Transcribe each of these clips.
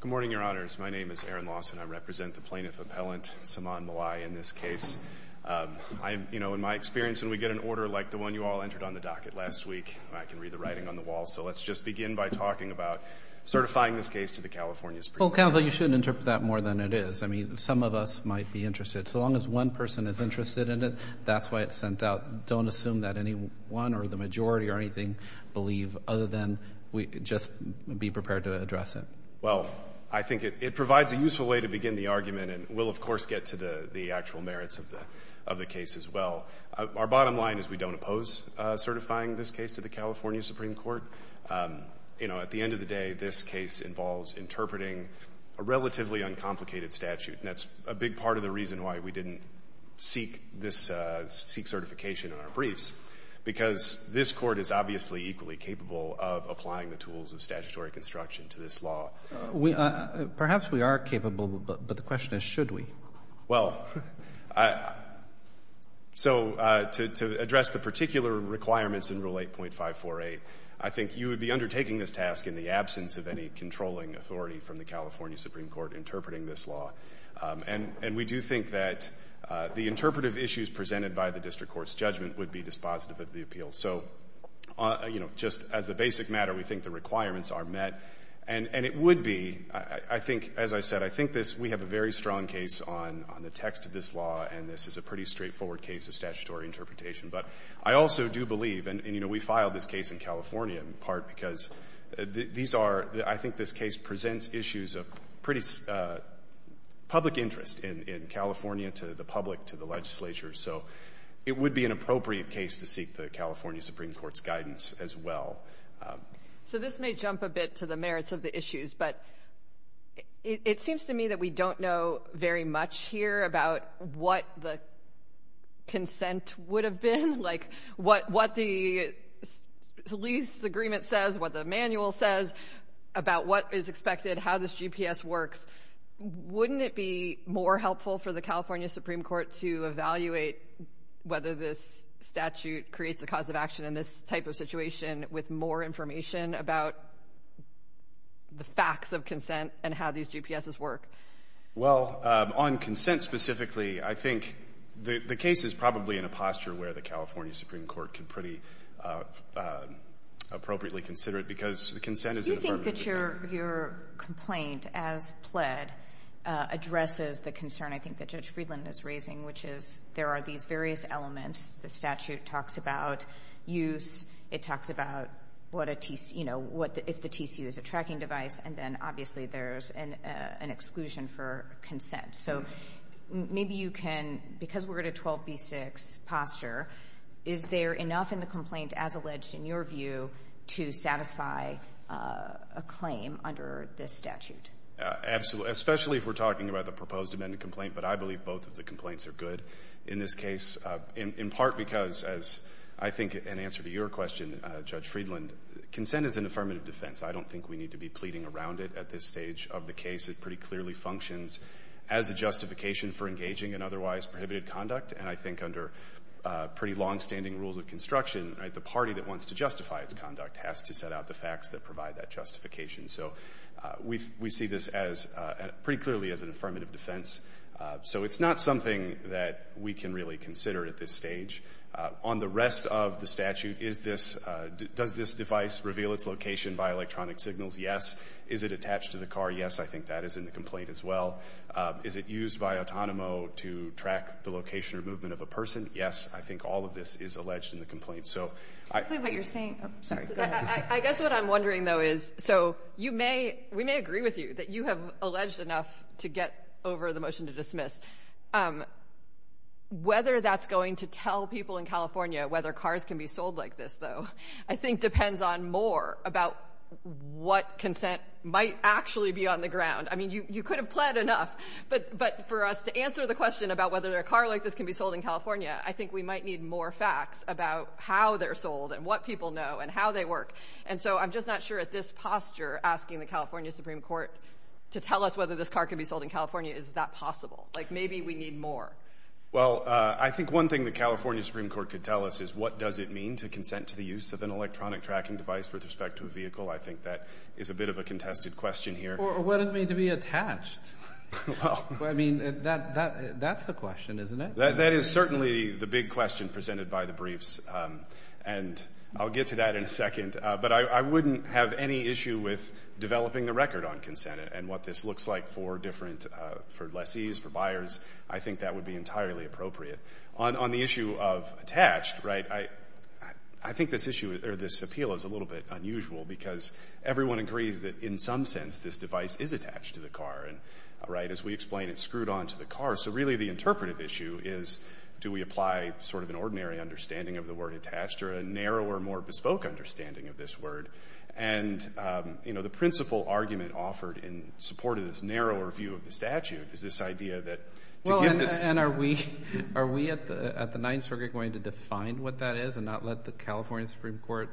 Good morning, Your Honors. My name is Aaron Lawson. I represent the Plaintiff Appellant, Saman Mollaei, in this case. I, you know, in my experience, when we get an order like the one you all entered on the docket last week, I can read the writing on the wall, so let's just begin by talking about certifying this case to the California Supreme Court. Well, Counsel, you shouldn't interpret that more than it is. I mean, some of us might be interested. So long as one person is interested in it, that's why it's sent out. Don't assume that anyone or the majority or anything believe other than we just be prepared to address it. Well, I think it provides a useful way to begin the argument, and we'll, of course, get to the actual merits of the case as well. Our bottom line is we don't oppose certifying this case to the California Supreme Court. You know, at the end of the day, this case involves interpreting a relatively uncomplicated statute, and that's a big part of the reason why we didn't seek certification in our briefs, because this Court is obviously equally capable of applying the tools of statutory construction to this law. Perhaps we are capable, but the question is, should we? Well, so to address the particular requirements in Rule 8.548, I think you would be undertaking this task in the absence of any controlling authority from the California Supreme Court interpreting this law, and we do think that the interpretive issues presented by the statute would be dispositive of the appeal. So, you know, just as a basic matter, we think the requirements are met, and it would be, I think, as I said, I think this, we have a very strong case on the text of this law, and this is a pretty straightforward case of statutory interpretation. But I also do believe, and, you know, we filed this case in California in part because these are, I think this case presents issues of pretty public interest in California to the public, to the legislature. So it would be an appropriate case to seek the California Supreme Court's guidance as well. So this may jump a bit to the merits of the issues, but it seems to me that we don't know very much here about what the consent would have been, like what the lease agreement says, what the manual says about what is expected, how this GPS works. Wouldn't it be more helpful for the California Supreme Court to evaluate whether this statute creates a cause of action in this type of situation with more information about the facts of consent and how these GPSs work? Well, on consent specifically, I think the case is probably in a posture where the California Supreme Court can pretty appropriately consider it because the consent is an affirmative defense. I think that your complaint as pled addresses the concern I think that Judge Friedland is raising, which is there are these various elements. The statute talks about use. It talks about what a, you know, if the TCU is a tracking device, and then obviously there's an exclusion for consent. So maybe you can, because we're at a 12B6 posture, is there enough in the complaint as alleged in your view to satisfy a claim under this statute? Absolutely, especially if we're talking about the proposed amended complaint. But I believe both of the complaints are good in this case, in part because, as I think in answer to your question, Judge Friedland, consent is an affirmative defense. I don't think we need to be pleading around it at this stage of the case. It pretty clearly functions as a justification for engaging in otherwise prohibited conduct. And I think under pretty longstanding rules of construction, the party that wants to justify its conduct has to set out the facts that provide that justification. So we see this as, pretty clearly, as an affirmative defense. So it's not something that we can really consider at this stage. On the rest of the statute, is this, does this device reveal its location by electronic signals? Yes. Is it attached to the car? Yes. I think that is in the complaint as well. Is it used by Autonomo to track the location or movement of a person? Yes. I guess what I'm wondering, though, is, so you may, we may agree with you, that you have alleged enough to get over the motion to dismiss. Whether that's going to tell people in California whether cars can be sold like this, though, I think depends on more about what consent might actually be on the ground. I mean, you could have pled enough, but for us to answer the question about whether a car like this can be sold in California, I think we might need more facts about how they're sold, and what people know, and how they work. And so, I'm just not sure at this posture, asking the California Supreme Court to tell us whether this car can be sold in California, is that possible? Like, maybe we need more. Well, I think one thing the California Supreme Court could tell us is, what does it mean to consent to the use of an electronic tracking device with respect to a vehicle? I think that is a bit of a contested question here. Or what does it mean to be attached? Well, I mean, that, that, that's a question, isn't it? That is certainly the big question presented by the briefs, and I'll get to that in a second, but I wouldn't have any issue with developing the record on consent, and what this looks like for different, for lessees, for buyers. I think that would be entirely appropriate. On, on the issue of attached, right, I, I think this issue, or this appeal, is a little bit unusual, because everyone agrees that, in some sense, this device is attached to the car, and, right, as we explain, it's screwed on to the car. So, really, the interpretive issue is, do we apply, sort of, an ordinary understanding of the word attached, or a narrower, more bespoke understanding of this word? And, you know, the principal argument offered in support of this narrower view of the statute is this idea that, well, and are we, are we at the, at the Ninth Circuit going to define what that is, and not let the California Supreme Court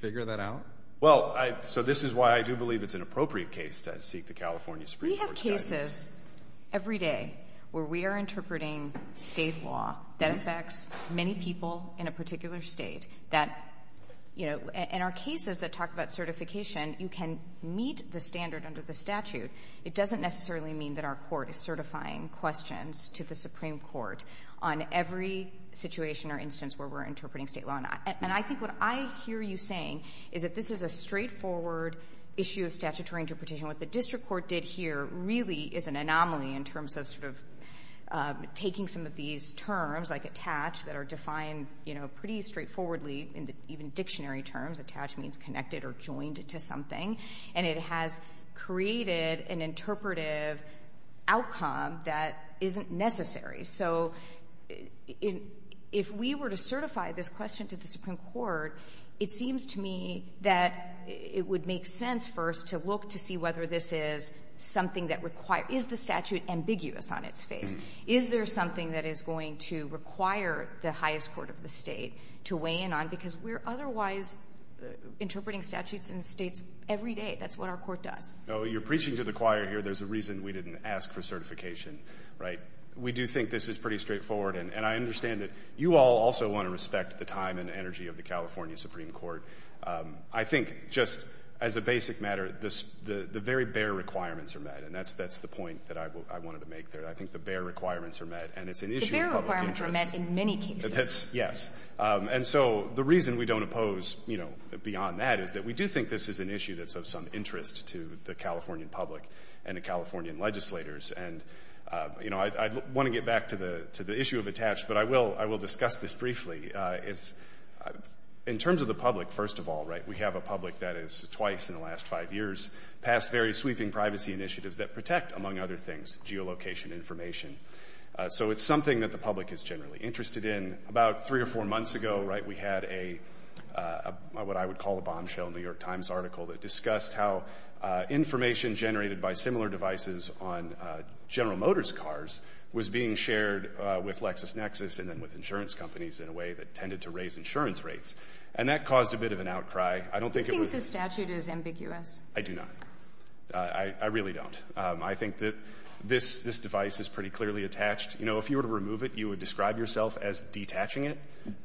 figure that out? Well, I, so this is why I do believe it's an appropriate case to seek the California Supreme Court's guidance. We have cases every day where we are interpreting State law that affects many people in a particular State that, you know, in our cases that talk about certification, you can meet the standard under the statute. It doesn't necessarily mean that our Court is certifying questions to the Supreme Court on every situation or instance where we're interpreting State law. And I, and I think what I hear you saying is that this is a straightforward issue of statutory interpretation. What the District Court did here really is an anomaly in terms of sort of taking some of these terms, like attach, that are defined, you know, pretty straightforwardly in even dictionary terms. Attached means connected or joined to something. And it has created an interpretive outcome that isn't necessary. So if we were to certify this question to the Supreme Court, it seems to me that it would make sense first to look to see whether this is something that requires, is the statute ambiguous on its face? Is there something that is going to require the highest court of the State to weigh in on? Because we're otherwise interpreting statutes in States every day. That's what our Court does. No, you're preaching to the choir here. There's a reason we didn't ask for certification, right? We do think this is pretty straightforward. And I understand that you all also want to respect the time and energy of the California Supreme Court. I think just as a basic matter, the very bare requirements are met. And that's the point that I wanted to make there. I think the bare requirements are met. And it's an issue of public interest. The bare requirements are met in many cases. Yes. And so the reason we don't oppose, you know, beyond that is that we do think this is an issue that's of some interest to the Californian public and the Californian legislators. And, you know, I want to get back to the issue of attached, but I will discuss this briefly is in terms of the public, first of all, right, we have a public that is twice in the last five years passed very sweeping privacy initiatives that protect, among other things, geolocation information. So it's something that the public is generally interested in. About three or four months ago, right, we had a what I would call a bombshell New York Times article that discussed how information generated by similar devices on General Motors cars was being shared with Lexus Nexus and then with insurance companies in a way that tended to raise insurance rates. And that caused a bit of an outcry. I don't think it was. You think the statute is ambiguous? I do not. I really don't. I think that this device is pretty clearly attached. You know, if you were to remove it, you would describe yourself as detaching it.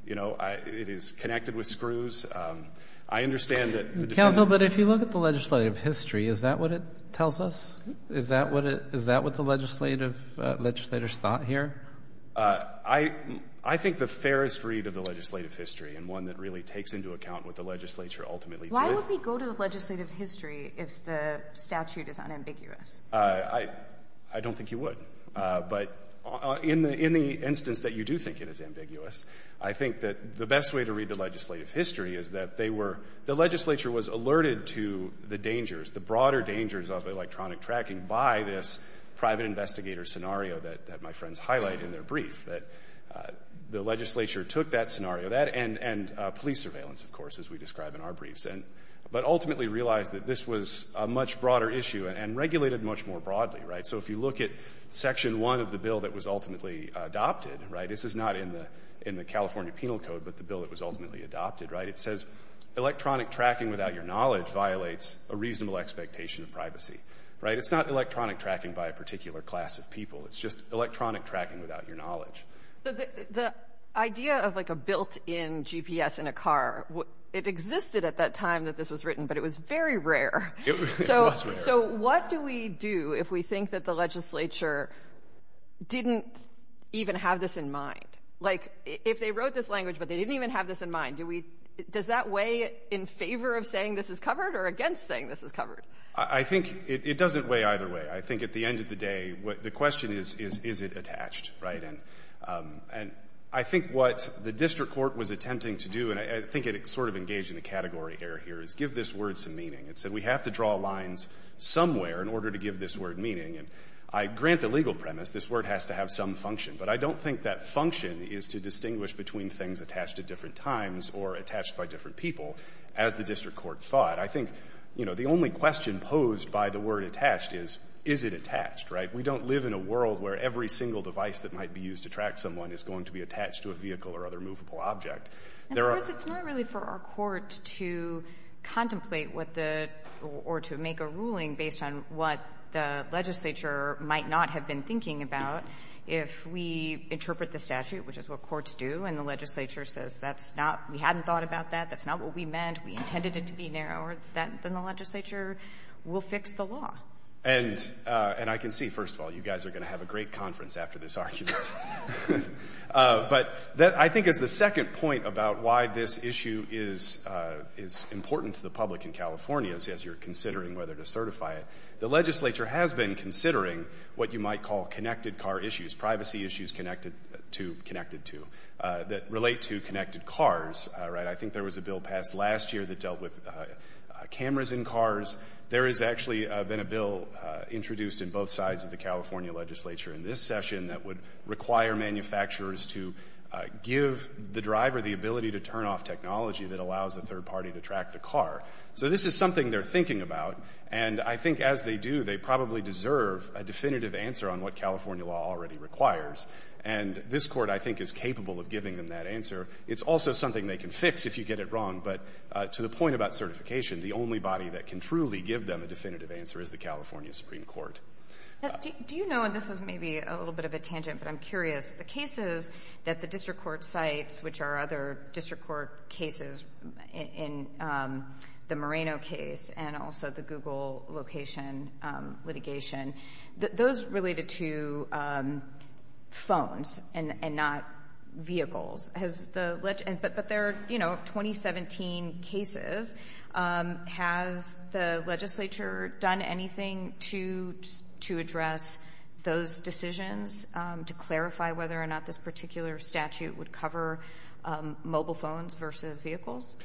You know, it is connected with screws. I understand that. Counsel, but if you look at the legislative history, is that what it tells us? Is that what the legislative legislators thought here? I think the fairest read of the legislative history and one that really takes into account what the legislature ultimately did. Why would we go to the legislative history if the statute is unambiguous? I don't think you would. But in the instance that you do think it is ambiguous, I think that the best way to read the legislative history is that they were, the legislature was alerted to the dangers, the broader dangers of electronic tracking by this private investigator scenario that my friends highlighted in their brief. The legislature took that scenario and police surveillance, of course, as we describe in our briefs. But ultimately realized that this was a much broader issue and regulated much more broadly. So if you look at Section 1 of the bill that was ultimately adopted, this is not in the California Penal Code, but the bill that was ultimately adopted. It says electronic tracking without your knowledge violates a reasonable expectation of privacy. Right? It's not electronic tracking by a particular class of people. It's just electronic tracking without your The idea of like a built-in GPS in a car, it existed at that time that this was written, but it was very rare. It was rare. So what do we do if we think that the legislature didn't even have this in mind? Like if they wrote this language, but they didn't even have this in mind, do we, does that weigh in favor of saying this is covered or against saying this is covered? I think it doesn't weigh either way. I think at the end of the day, the question is, is it attached? Right? And I think what the district court was attempting to do, and I think it sort of engaged in a category error here, is give this word some meaning. It said we have to draw lines somewhere in order to give this word meaning. And I grant the legal premise this word has to have some function, but I don't think that function is to distinguish between things attached at different times or attached by different people, as the district court thought. I think, you know, the only question posed by the word attached is, is it attached? Right? We don't live in a world where every single device that might be used to track someone is going to be attached to a vehicle or other movable object. And of course, it's not really for our court to contemplate what the, or to make a ruling based on what the legislature might not have been thinking about if we interpret the statute, which is what courts do, and the legislature says that's not, we hadn't thought about that, that's not what we meant, we intended it to be narrower, then the legislature will fix the law. And I can see, first of all, you guys are going to have a great conference after this argument. But I think as the second point about why this issue is important to the public in California, as you're considering whether to certify it, the legislature has been considering what you might call connected car issues, privacy issues connected to, connected to, that relate to connected cars, right? I think there was a bill passed last year that dealt with cameras in cars. There has actually been a bill introduced in both sides of the California legislature in this session that would require manufacturers to give the driver the ability to turn off technology that allows a third party to track the car. So this is something they're thinking about, and I think as they do, they probably deserve a definitive answer on what California law already requires. And this court, I think, is capable of giving them that answer. It's also something they can fix if you get it wrong, but to the point about certification, the only body that can truly give them a definitive answer is the California Supreme Court. Do you know, and this is maybe a little bit of a tangent, but I'm curious, the cases that the district court cites, which are other district court cases, in the Moreno case and also the Google location litigation, those related to phones and not vehicles, but they're, you know, 2017 cases. Has the legislature done anything to address those decisions to clarify whether or not this particular statute would cover mobile phones versus vehicles?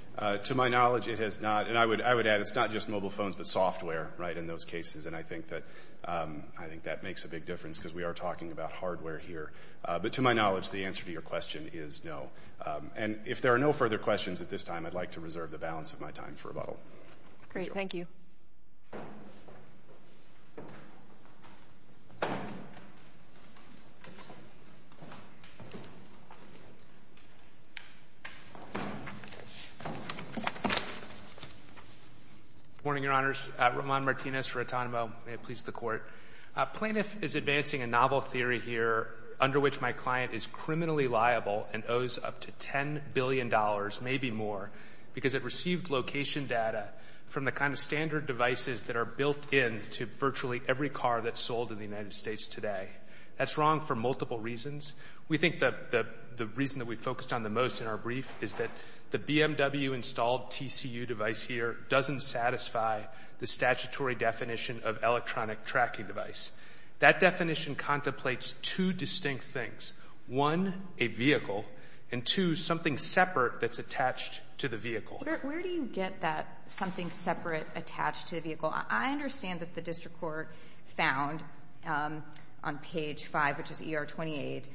To my knowledge, it has not. And I would add, it's not just mobile phones, but software, right, in those cases. And I think that makes a big difference because we are talking about hardware here. But to my knowledge, the answer to your question is no. And if there are no further questions at this time, I'd like to reserve the balance of my time for rebuttal. Great. Thank you. Good morning, Your Honors. Roman Martinez for Autonomo. May it please the Court. Plaintiff is advancing a novel theory here under which my client is criminally liable and owes up to $10 billion, maybe more, because it received location data from the kind of standard devices that are built into virtually every car that's sold in the United States today. That's wrong for multiple reasons. We think that the reason that we focused on the most in our brief is that the BMW installed TCU device here doesn't satisfy the statutory definition of electronic tracking device. That definition contemplates two distinct things. One, a vehicle, and two, something separate that's attached to the vehicle. Where do you get that something separate attached to the vehicle? I understand that the District Court found on page 5, which is Article 28,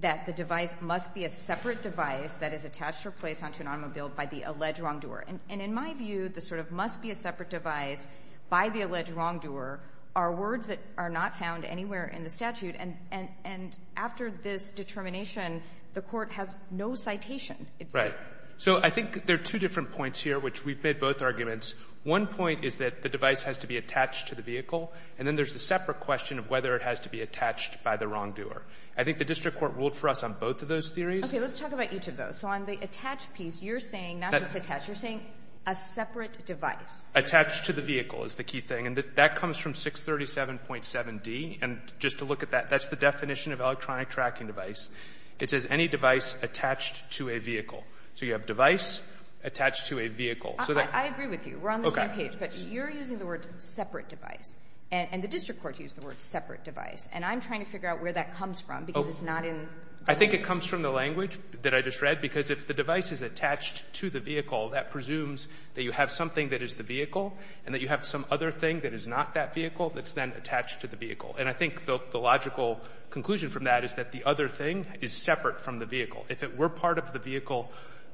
that the device must be a separate device that is attached or placed onto an automobile by the alleged wrongdoer. And in my view, the sort of must-be-a-separate device by the alleged wrongdoer are words that are not found anywhere in the statute. And after this determination, the Court has no citation. Right. So I think there are two different points here, which we've made both arguments. One point is that the device has to be attached to the vehicle, and then there's the separate question of whether it has to be attached by the wrongdoer. I think the District Court ruled for us on both of those theories. Okay. Let's talk about each of those. So on the attach piece, you're saying not just attach. You're saying a separate device. Attached to the vehicle is the key thing. And that comes from 637.7d. And just to look at that, that's the definition of electronic tracking device. It says any device attached to a vehicle. So you have device attached to a vehicle. I agree with you. We're on the same page. But you're using the word separate device. And the District Court used the word separate device. And I'm trying to figure out where that comes from, because it's not in the I think it comes from the language that I just read. Because if the device is attached to the vehicle, that presumes that you have something that is the vehicle, and that you have some other thing that is not that vehicle that's then attached to the vehicle. And I think the logical conclusion from that is that the other thing is separate from the vehicle. If it were part of the vehicle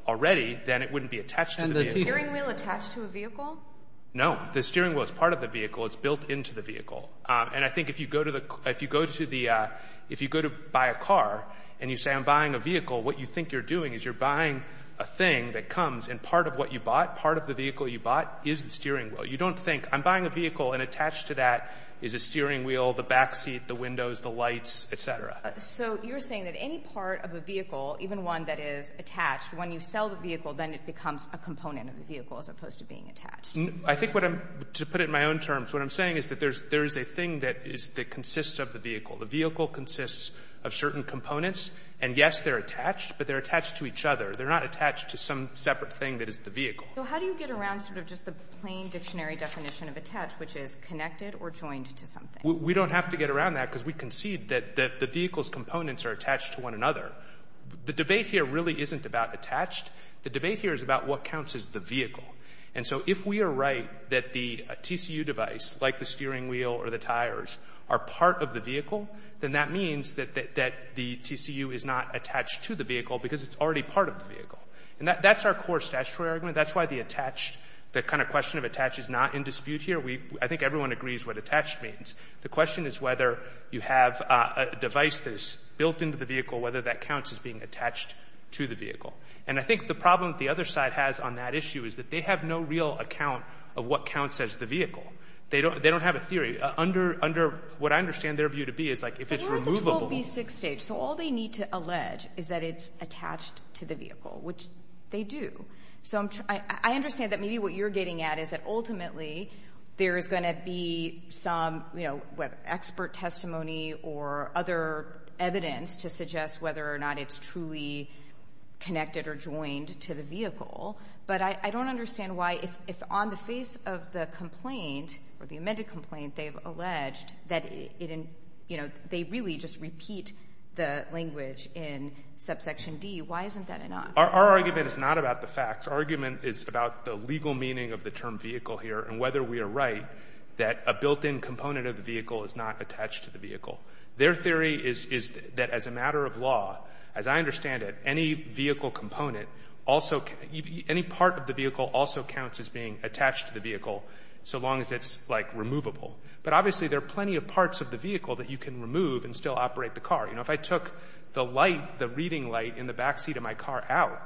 already, then it wouldn't be attached to the vehicle. And the steering wheel attached to a vehicle? No. The steering wheel is part of the vehicle. It's built into the vehicle. And I think if you go to buy a car, and you say, I'm buying a vehicle, what you think you're doing is you're buying a thing that comes. And part of what you bought, part of the vehicle you bought, is the steering wheel. You don't think, I'm buying a vehicle, and attached to that is a steering wheel, the backseat, the windows, the lights, et cetera. So you're saying that any part of a vehicle, even one that is attached, when you sell the vehicle, then it becomes a component of the vehicle, as opposed to being attached. I think what I'm, to put it in my own terms, what I'm saying is that there's a thing that is, that consists of the vehicle. The vehicle consists of certain components, and yes, they're attached, but they're attached to each other. They're not attached to some separate thing that is the vehicle. So how do you get around sort of just the plain dictionary definition of attached, which is connected or joined to something? We don't have to get around that, because we concede that the vehicle's components are attached to one another. The debate here really isn't about attached. The debate here is about what counts as the vehicle. And so if we are right that the TCU device, like the steering wheel or the tires, are part of the vehicle, then that means that the TCU is not attached to the vehicle, because it's already part of the vehicle. And that's our core statutory argument. That's why the attached, the kind of question of attached is not in dispute here. We, I think everyone agrees what attached means. The question is whether you have a device that is built into the vehicle, whether that counts as being attached to the vehicle. And I think the problem that the other side has on that issue is that they have no real account of what counts as the vehicle. They don't have a theory. Under what I understand their view to be is like if it's removable. But what about the 12B6 stage? So all they need to allege is that it's attached to the vehicle, which they do. So I understand that maybe what you're getting at is that ultimately there's going to be some, you know, expert testimony or other evidence to suggest whether or not it's truly connected or joined to the vehicle. But I don't understand why, if on the face of the complaint, or the amended complaint, they've alleged that it, you know, they really just repeat the language in subsection D, why isn't that enough? Our argument is not about the facts. Our argument is about the legal meaning of the term vehicle here and whether we are right that a built-in component of the vehicle is not attached to the vehicle. Their theory is that as a matter of law, as I understand it, any vehicle component also, any part of the vehicle also counts as being attached to the vehicle, so long as it's like removable. But obviously there are plenty of parts of the vehicle that you can remove and still operate the car. You know, if I took the light, the reading light in the back seat of my car out,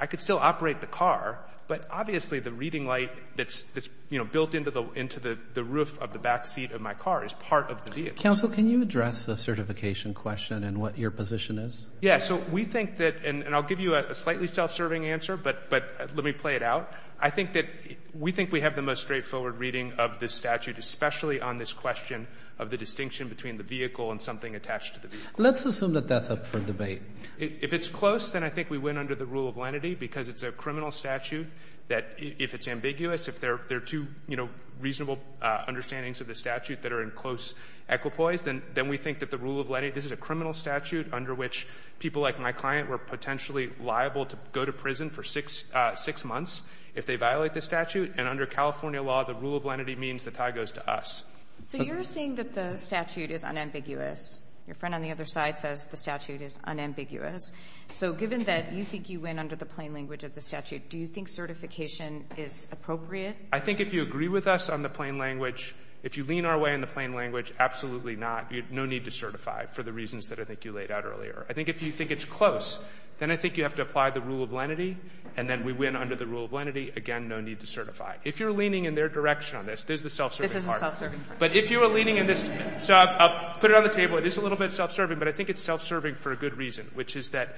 I could still operate the car, but obviously the reading light that's, you know, built into the roof of the back seat of my car is part of the vehicle. Counsel, can you address the certification question and what your position is? Yeah, so we think that, and I'll give you a slightly self-serving answer, but let me play it out. I think that we think we have the most straightforward reading of this statute, especially on this question of the distinction between the vehicle and something attached to the vehicle. Let's assume that that's up for debate. If it's close, then I think we win under the rule of lenity because it's a criminal statute that if it's ambiguous, if there are two, you know, reasonable understandings of the statute that are in close equipoise, then we think that the rule of lenity, this is a criminal statute under which people like my client were potentially liable to go to prison for six months if they violate the statute. And under California law, the rule of lenity means the tie goes to us. So you're saying that the statute is unambiguous. Your friend on the other side says the statute is unambiguous. So given that you think you win under the plain language of the statute, do you think certification is appropriate? I think if you agree with us on the plain language, if you lean our way on the plain language, absolutely not. You have no need to certify for the reasons that I think you laid out earlier. I think if you think it's close, then I think you have to apply the rule of lenity, and then we win under the rule of lenity. Again, no need to certify. If you're leaning in their direction on this, there's the self-serving part. This isn't self-serving. But if you are leaning in this, so I'll put it on the table. It is a little bit self-serving, but I think it's self-serving for a good reason, which is that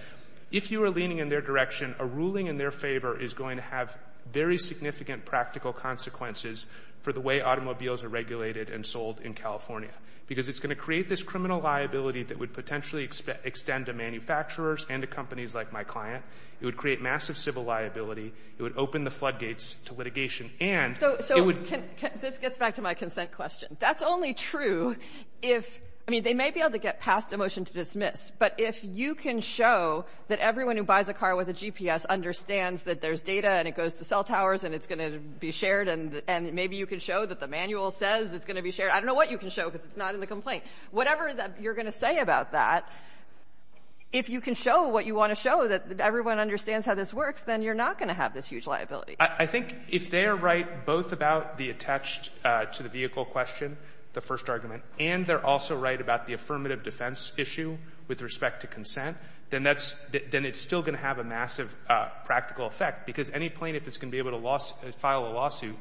if you are leaning in their direction, a ruling in their favor is going to have very significant practical consequences for the way automobiles are regulated and sold in California, because it's going to create this criminal liability that would potentially extend to manufacturers and to companies like my client. It would create massive civil liability. It would open the floodgates to litigation. And it would be the same thing if you were So this gets back to my consent question. That's only true if, I mean, they may be able to get past a motion to dismiss. But if you can show that everyone who buys a car with a GPS understands that there's data and it goes to cell towers and it's going to be shared and maybe you can show that the manual says it's going to be shared. I don't know what you can show because it's not in the complaint. Whatever you're going to say about that, if you can show what you want to show, that everyone understands how this works, then you're not going to have this huge liability. I think if they are right both about the attached to the vehicle question, the first argument, and they're also right about the affirmative defense issue with respect to consent, then that's — then it's still going to have a massive practical effect, because any plaintiff is going to be able to file a lawsuit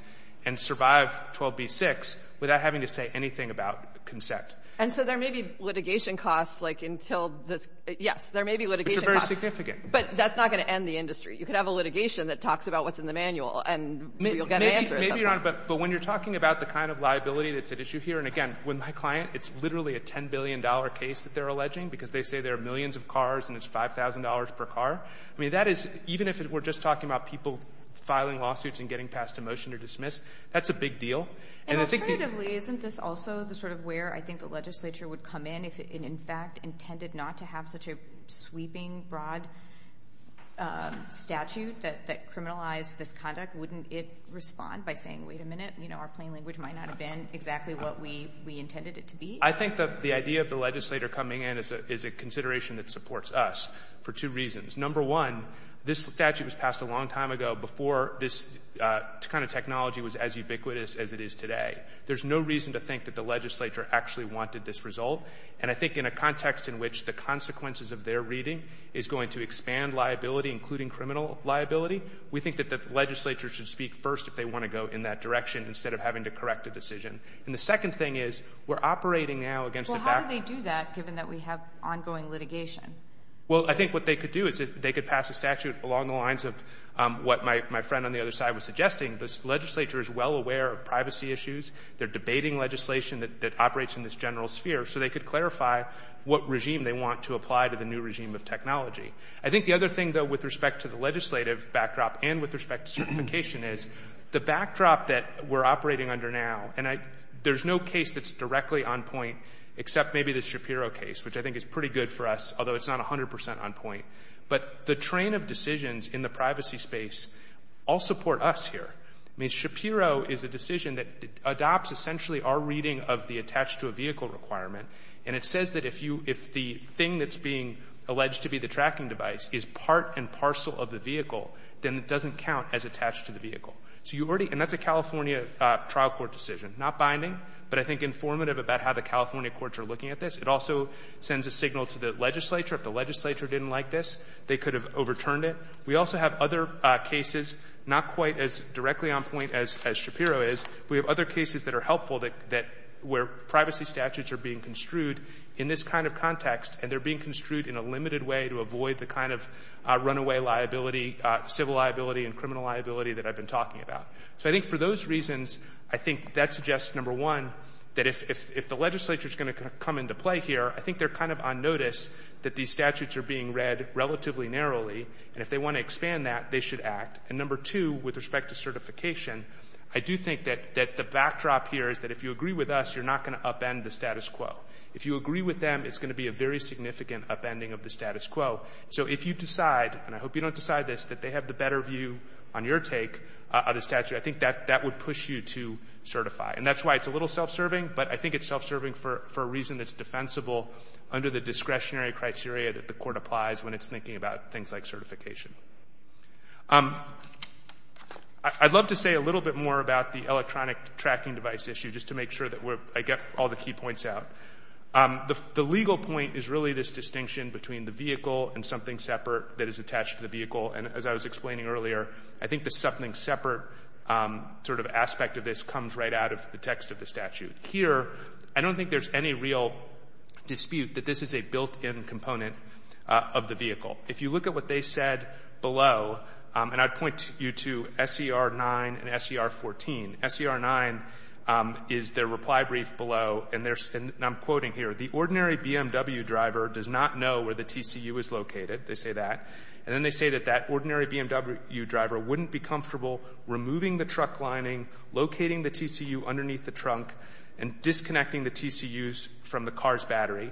and survive 12b-6 without having to say anything about consent. And so there may be litigation costs, like, until the — yes, there may be litigation Which are very significant. But that's not going to end the industry. You could have a litigation that talks about what's in the manual and you'll get an answer or something. Maybe, Your Honor, but when you're talking about the kind of liability that's at issue here, and again, with my client, it's literally a $10 billion case that they're millions of cars and it's $5,000 per car. I mean, that is — even if we're just talking about people filing lawsuits and getting passed a motion to dismiss, that's a big deal. And I think — And alternatively, isn't this also the sort of where I think the legislature would come in if it, in fact, intended not to have such a sweeping, broad statute that criminalized this conduct? Wouldn't it respond by saying, wait a minute, you know, our plain language might not have been exactly what we intended it to be? I think that the idea of the legislator coming in is a consideration that supports us for two reasons. Number one, this statute was passed a long time ago before this kind of technology was as ubiquitous as it is today. There's no reason to think that the legislature actually wanted this result. And I think in a context in which the consequences of their reading is going to expand liability, including criminal liability, we think that the legislature should speak first if they want to go in that direction instead of having to correct a decision. And the second thing is, we're operating now against a backdrop — Well, how do they do that, given that we have ongoing litigation? Well, I think what they could do is they could pass a statute along the lines of what my friend on the other side was suggesting. The legislature is well aware of privacy issues. They're debating legislation that operates in this general sphere, so they could clarify what regime they want to apply to the new regime of technology. I think the other thing, though, with respect to the legislative backdrop and with respect to certification is, the backdrop that we're operating under now, there's no case that's directly on point except maybe the Shapiro case, which I think is pretty good for us, although it's not 100 percent on point. But the train of decisions in the privacy space all support us here. I mean, Shapiro is a decision that adopts essentially our reading of the attached-to-a-vehicle requirement, and it says that if the thing that's being alleged to be the tracking device is part and parcel of the vehicle, then it doesn't count as attached to the vehicle. So you already, and that's a California trial court decision, not binding, but I think informative about how the California courts are looking at this. It also sends a signal to the legislature. If the legislature didn't like this, they could have overturned it. We also have other cases, not quite as directly on point as Shapiro is. We have other cases that are helpful that, where privacy statutes are being construed in this kind of context, and they're being construed in a limited way to avoid the kind of runaway liability, civil liability, and criminal liability that I've been talking about. So I think for those reasons, I think that suggests, number one, that if the legislature's going to come into play here, I think they're kind of on notice that these statutes are being read relatively narrowly, and if they want to expand that, they should act. And number two, with respect to certification, I do think that the backdrop here is that if you agree with us, you're not going to upend the status quo. If you agree with them, it's going to be a very significant upending of the status quo. So if you decide, and I hope you don't decide this, that they have the better view on your take of the statute, I think that would push you to certify. And that's why it's a little self-serving, but I think it's self-serving for a reason that's defensible under the discretionary criteria that the court applies when it's thinking about things like certification. I'd love to say a little bit more about the electronic tracking device issue, just to make sure that I get all the key points out. The legal point is really this distinction between the vehicle and something separate that is attached to the vehicle. And as I was explaining earlier, I think the something separate sort of aspect of this comes right out of the text of the statute. Here, I don't think there's any real dispute that this is a built-in component of the vehicle. If you look at what they said below, and I'd point you to SCR 9 and SCR 14. SCR 9 is their reply brief below, and I'm quoting here, the ordinary BMW driver does not know where the TCU is located. They say that. And then they say that that ordinary BMW driver wouldn't be comfortable removing the truck lining, locating the TCU underneath the trunk, and disconnecting the TCUs from the car's battery.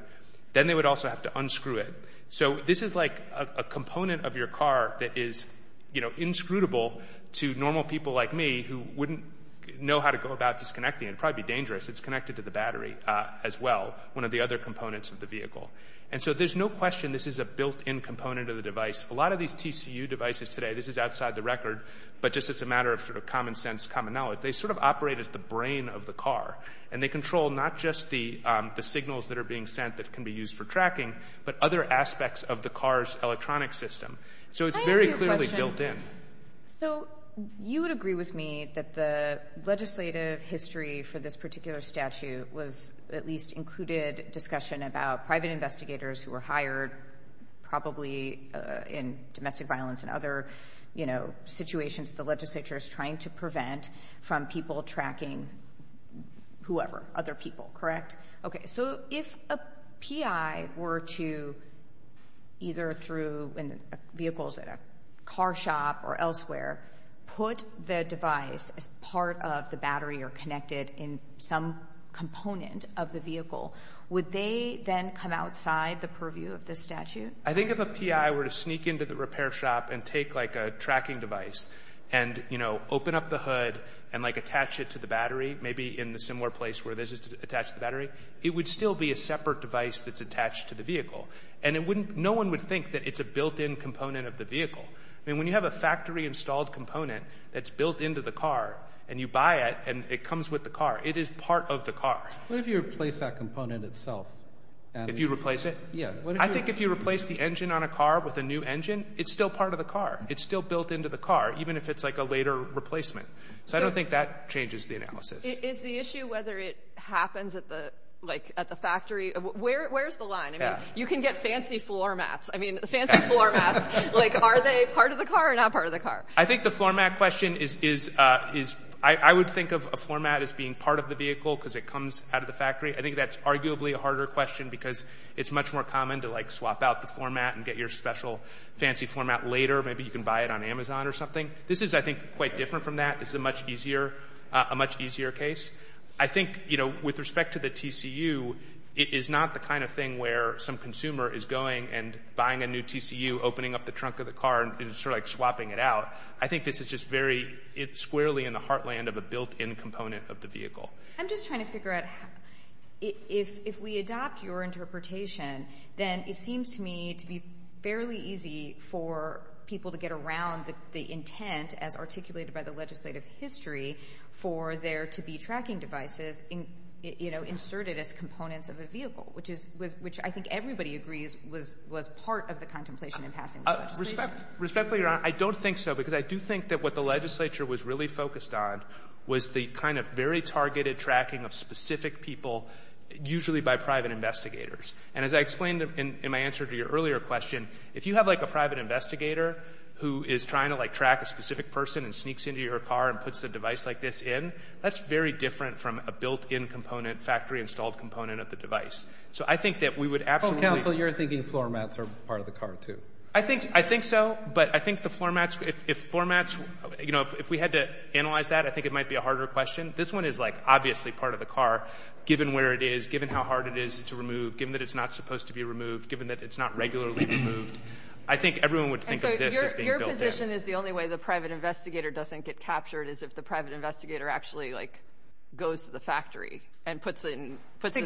Then they would also have to unscrew it. So this is like a component of your car that is inscrutable to normal people like me who wouldn't know how to go about disconnecting it. It'd probably be dangerous. It's connected to the battery as well, one of the other components of the vehicle. And so there's no question this is a built-in component of the device. A lot of these TCU devices today, this is outside the record, but just as a matter of sort of common sense, common knowledge, they sort of operate as the brain of the car. And they control not just the signals that are being sent that can be used for tracking, but other aspects of the car's electronic system. So it's very clearly built in. So you would agree with me that the legislative history for this particular statute was at least included discussion about private investigators who were hired probably in domestic violence and other situations the legislature is trying to prevent from people tracking whoever, other people, correct? Okay, so if a PI were to either through, vehicles at a car shop or elsewhere, put the device as part of the battery or connected in some component of the vehicle, would they then come outside the purview of this statute? I think if a PI were to sneak into the repair shop and take like a tracking device and open up the hood and like attach it to the battery, maybe in the similar place where this is attached to the battery, it would still be a separate device that's attached to the vehicle. And no one would think that it's a built-in component of the vehicle. I mean, when you have a factory installed component that's built into the car and you buy it and it comes with the car, it is part of the car. What if you replace that component itself? If you replace it? Yeah. I think if you replace the engine on a car with a new engine, it's still part of the car. It's still built into the car, even if it's like a later replacement. So I don't think that changes the analysis. Is the issue whether it happens at the factory, where's the line? You can get fancy floor mats. I mean, the fancy floor mats, like are they part of the car or not part of the car? I think the floor mat question is, I would think of a floor mat as being part of the vehicle because it comes out of the factory. I think that's arguably a harder question because it's much more common to like swap out the floor mat and get your special fancy floor mat later. Maybe you can buy it on Amazon or something. This is, I think, quite different from that. This is a much easier case. I think, you know, with respect to the TCU, it is not the kind of thing where some consumer is going and buying a new TCU, opening up the trunk of the car and sort of like swapping it out. I think this is just very squarely in the heartland of a built-in component of the vehicle. I'm just trying to figure out, if we adopt your interpretation, then it seems to me to be fairly easy for people to get around the intent, as articulated by the legislative history, for there to be tracking devices, you know, inserted as components of a vehicle, which I think everybody agrees was part of the contemplation in passing this legislation. Respectfully, Your Honor, I don't think so because I do think that what the legislature was really focused on was the kind of very targeted tracking of specific people, usually by private investigators. And as I explained in my answer to your earlier question, if you have like a private investigator who is trying to like track a specific person and sneaks into your car and puts a device like this in, that's very different from a built-in component, factory-installed component of the device. So I think that we would absolutely... Oh, counsel, you're thinking floor mats are part of the car, too. I think so, but I think the floor mats, if floor mats, you know, if we had to analyze that, I think it might be a harder question. This one is like obviously part of the car, given where it is, given how hard it is to remove, given that it's not supposed to be removed, given that it's not regularly removed. I think everyone would think of this as being built-in. And so your position is the only way the private investigator doesn't get captured is if the private investigator actually like goes to the factory and puts this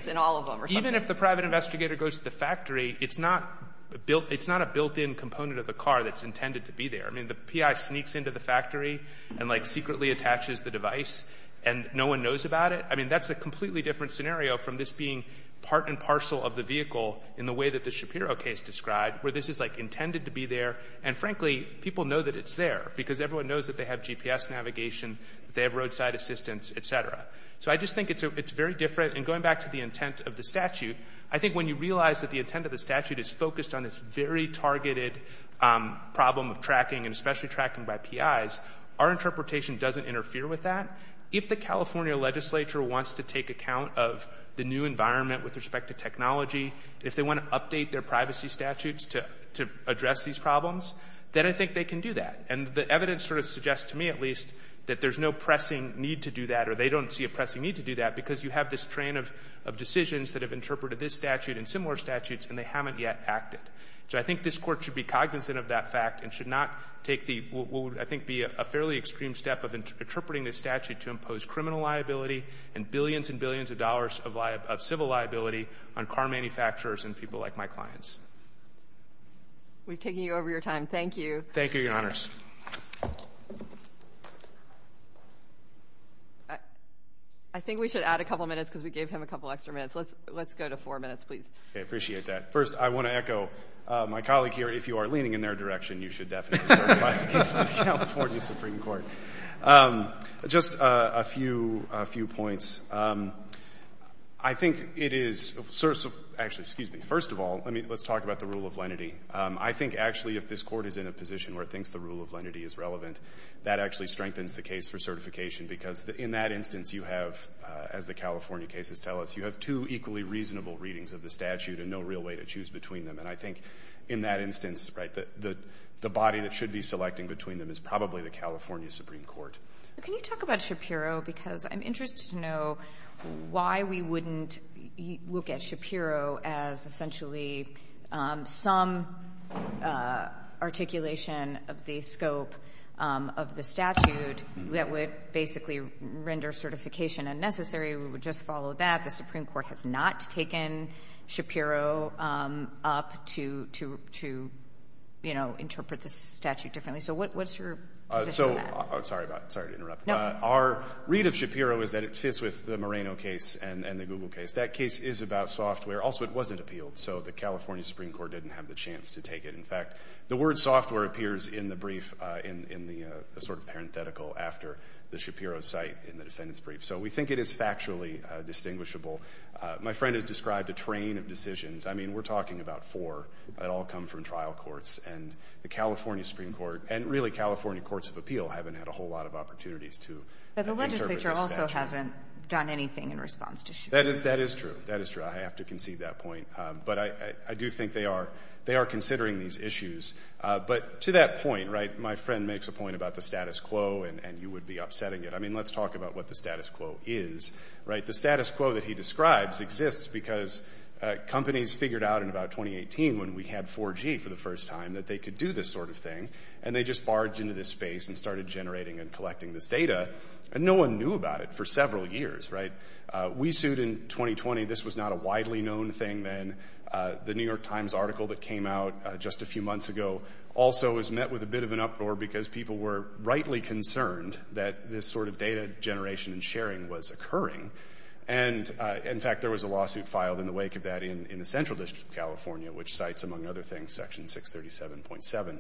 in all of them or something. Even if the private investigator goes to the factory, it's not a built-in component of the car that's intended to be there. I mean, the PI sneaks into the factory and like secretly attaches the device and no one knows about it. I mean, that's a completely different scenario from this being part and parcel of the vehicle in the way that the Shapiro case described, where this is like intended to be there. And frankly, people know that it's there because everyone knows that they have GPS navigation, they have roadside assistance, et cetera. So I just think it's very different. And going back to the intent of the statute, I think when you realize that the intent of the statute is focused on this very targeted problem of tracking and especially tracking by PIs, our interpretation doesn't interfere with that. If the California legislature wants to take account of the new environment with respect to technology, if they want to update their privacy statutes to address these problems, then I think they can do that. And the evidence sort of suggests to me at least that there's no pressing need to do that or they don't see a pressing need to do that because you have this train of decisions that have interpreted this statute and similar statutes and they haven't yet acted. So I think this Court should be cognizant of that fact and should not take the, what would I think be a fairly extreme step of interpreting this statute to impose criminal liability and billions and billions of dollars of civil liability on car manufacturers and people like my clients. We've taken you over your time. Thank you. I think we should add a couple minutes because we gave him a couple extra minutes. Let's go to four minutes, please. Okay, I appreciate that. First, I want to echo my colleague here. If you are leaning in their direction, you should definitely certify the case of the California Supreme Court. Just a few points. I think it is, actually, excuse me. First of all, let's talk about the rule of lenity. I think actually if this Court is in a position where it thinks the rule of lenity is relevant, that actually strengthens the case for certification because in that instance you have, as the California cases tell us, you have two equally reasonable readings of the statute and no real way to choose between them. And I think in that instance, right, the body that should be selecting between them is probably the California Supreme Court. Can you talk about Shapiro because I'm interested to know why we wouldn't look at Shapiro as essentially some articulation of the scope of the statute that would basically render certification unnecessary. We would just follow that. The Supreme Court has not taken Shapiro up to, you know, interpret the statute differently. So what's your position on that? So, I'm sorry to interrupt. Our read of Shapiro is that it fits with the Moreno case and the Google case. That case is about software. Also, it wasn't appealed, so the California Supreme Court didn't have the chance to take it. In fact, the word software appears in the brief in the sort of parenthetical after the Shapiro site in the defendant's brief. So we think it is factually distinguishable. My friend has described a train of decisions. I mean, we're talking about four that all come from trial courts. And the California Supreme Court and really California Courts of Appeal haven't had a whole lot of opportunities to interpret this statute. But the legislature also hasn't done anything in response to Shapiro. That is true. That is true. I have to concede that point. But I do think they are considering these issues. But to that point, right, my friend makes a point about the status quo and you would be upsetting it. I mean, let's talk about what the status quo is, right? The status quo that he describes exists because companies figured out in about 2018 when we had 4G for the first time that they could do this sort of thing. And they just barged into this space and started generating and collecting this data. And no one knew about it for several years, right? We sued in 2020. This was not a widely known thing then. The New York Times article that came out just a few months ago also was met with a bit of an uproar because people were rightly concerned that this sort of data generation and sharing was occurring. And in fact, there was a lawsuit filed in the wake of that in the Central District of California, which cites, among other things, Section 637.7.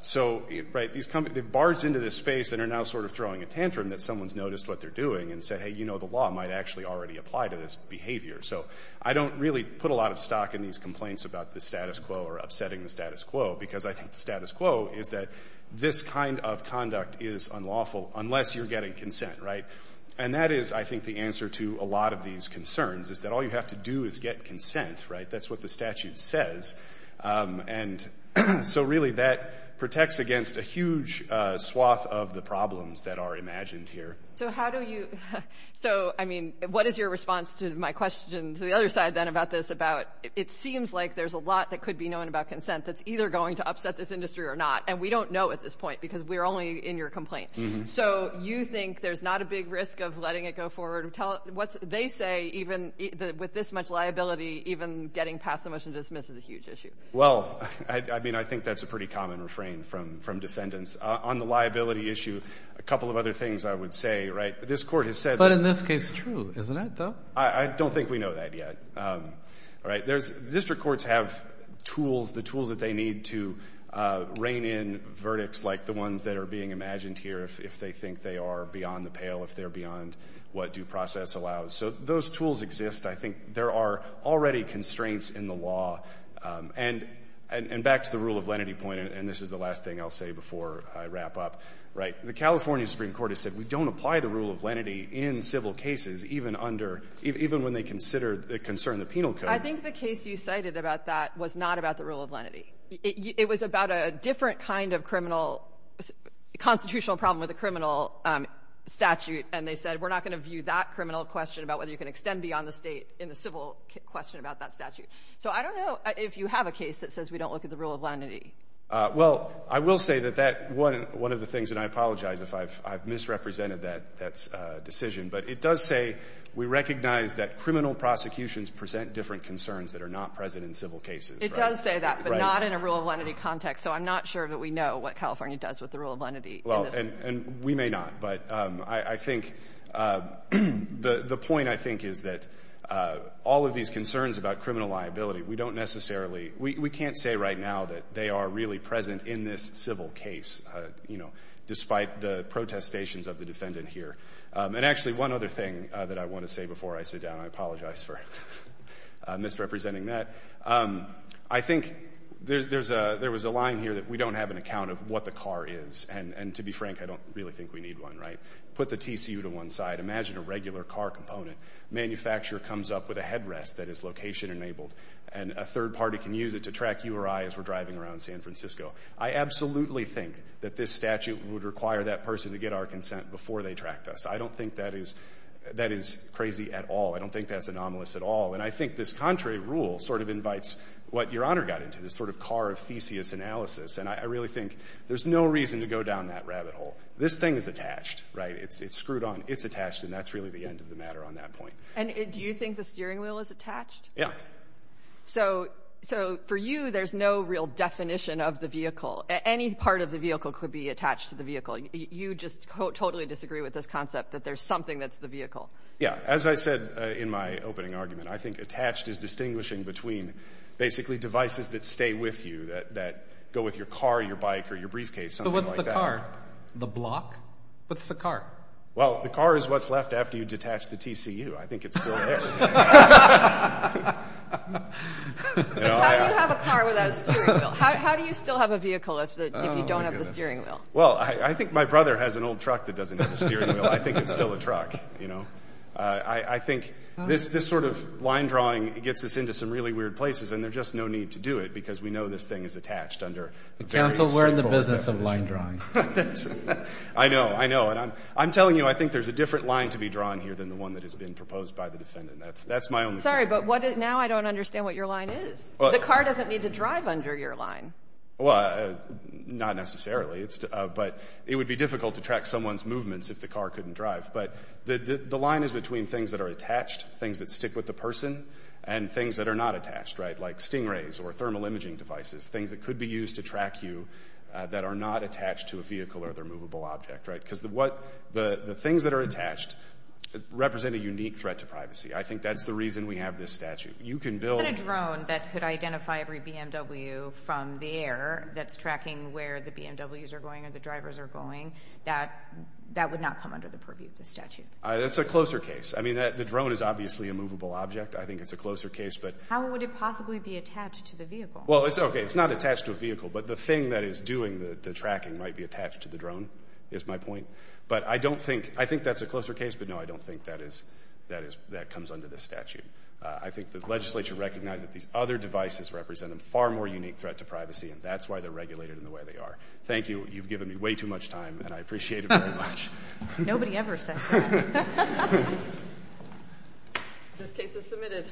So, right, these companies, they barged into this space and are now sort of throwing a tantrum that someone's noticed what they're doing and said, hey, you know, the law might actually already apply to this behavior. So I don't really put a lot of stock in these complaints about the status quo or upsetting the status quo because I think the status quo is that this kind of conduct is unlawful unless you're getting consent, right? And that is, I think, the answer to a lot of these concerns is that all you have to do is get consent, right? That's what the statute says. And so, really, that protects against a huge swath of the problems that are imagined here. So how do you, so, I mean, what is your response to my question to the other side, then, about this, about it seems like there's a lot that could be known about consent that's either going to upset this industry or not. And we don't know at this point because we're only in your complaint. So you think there's not a big risk of letting it go forward. What they say, even with this much liability, even getting passed the motion to dismiss is a huge issue. Well, I mean, I think that's a pretty common refrain from defendants. On the liability issue, a couple of other things I would say, right, this court has said. But in this case, true, isn't it, though? I don't think we know that yet, all right? There's, district courts have tools, the tools that they need to rein in verdicts like the ones that are being imagined here if they think they are beyond the pale, if they're beyond what due process allows. So those tools exist. I think there are already constraints in the law. And back to the rule of lenity point, and this is the last thing I'll say before I wrap up, right? The California Supreme Court has said we don't apply the rule of lenity in civil cases, even under, even when they consider, concern the penal code. I think the case you cited about that was not about the rule of lenity. It was about a different kind of criminal, constitutional problem with a criminal statute. And they said we're not going to view that criminal question about whether you can extend beyond the state in the civil question about that statute. So I don't know if you have a case that says we don't look at the rule of lenity. Well, I will say that that, one of the things, and I apologize if I've misrepresented that decision, but it does say we recognize that criminal prosecutions present different concerns that are not present in civil cases, right? It does say that, but not in a rule of lenity context. So I'm not sure that we know what California does with the rule of lenity. Well, and we may not. But I think, the point I think is that all of these concerns about criminal liability, we don't necessarily, we can't say right now that they are really present in this civil case, you know, despite the protestations of the defendant here. And actually, one other thing that I want to say before I sit down, and I apologize for misrepresenting that, I think there was a line here that we don't have an account of what the car is. And to be frank, I don't really think we need one, right? Put the TCU to one side. Imagine a regular car component. Manufacturer comes up with a headrest that is location enabled, and a third party can use it to track you or I as we're driving around San Francisco. I absolutely think that this statute would require that person to get our consent before they tracked us. I don't think that is crazy at all. I don't think that's anomalous at all. And I think this contrary rule sort of invites what Your Honor got into, this sort of car of theseus analysis. And I really think there's no reason to go down that rabbit hole. This thing is attached, right? It's screwed on. It's attached, and that's really the end of the matter on that point. And do you think the steering wheel is attached? Yeah. So for you, there's no real definition of the vehicle. Any part of the vehicle could be attached to the vehicle. You just totally disagree with this concept that there's something that's the vehicle. Yeah. As I said in my opening argument, I think attached is distinguishing between basically devices that stay with you, that go with your car, your bike, or your briefcase, something like that. So what's the car? The block? What's the car? Well, the car is what's left after you detach the TCU. I think it's still there. But how do you have a car without a steering wheel? How do you still have a vehicle if you don't have the steering wheel? Well, I think my brother has an old truck that doesn't have a steering wheel. I think it's still a truck, you know. I think this sort of line drawing gets us into some really weird places, and there's just no need to do it because we know this thing is attached under very extreme... Counsel, we're in the business of line drawing. I know. I know. And I'm telling you, I think there's a different line to be drawn here than the one that has been proposed by the defendant. That's my only... Sorry, but now I don't understand what your line is. The car doesn't need to drive under your line. Well, not necessarily. But it would be difficult to track someone's movements if the car couldn't drive. But the line is between things that are attached, things that stick with the person, and things that are not attached, right? Like stingrays or thermal imaging devices, things that could be used to track you that are not attached to a vehicle or their movable object, right? Because the things that are attached represent a unique threat to privacy. I think that's the reason we have this statute. You can build... If you had a drone that could identify every BMW from the air that's tracking where the BMWs are going or the drivers are going, that would not come under the purview of the statute. That's a closer case. I mean, the drone is obviously a movable object. I think it's a closer case, but... How would it possibly be attached to the vehicle? Well, it's okay. It's not attached to a vehicle. But the thing that is doing the tracking might be attached to the drone, is my point. But I don't think... I think that's a closer case, but no, I don't think that comes under the statute. I think the legislature recognizes that these other devices represent a far more unique threat to privacy, and that's why they're regulated in the way they are. Thank you. You've given me way too much time, and I appreciate it very much. Nobody ever says that. This case is submitted.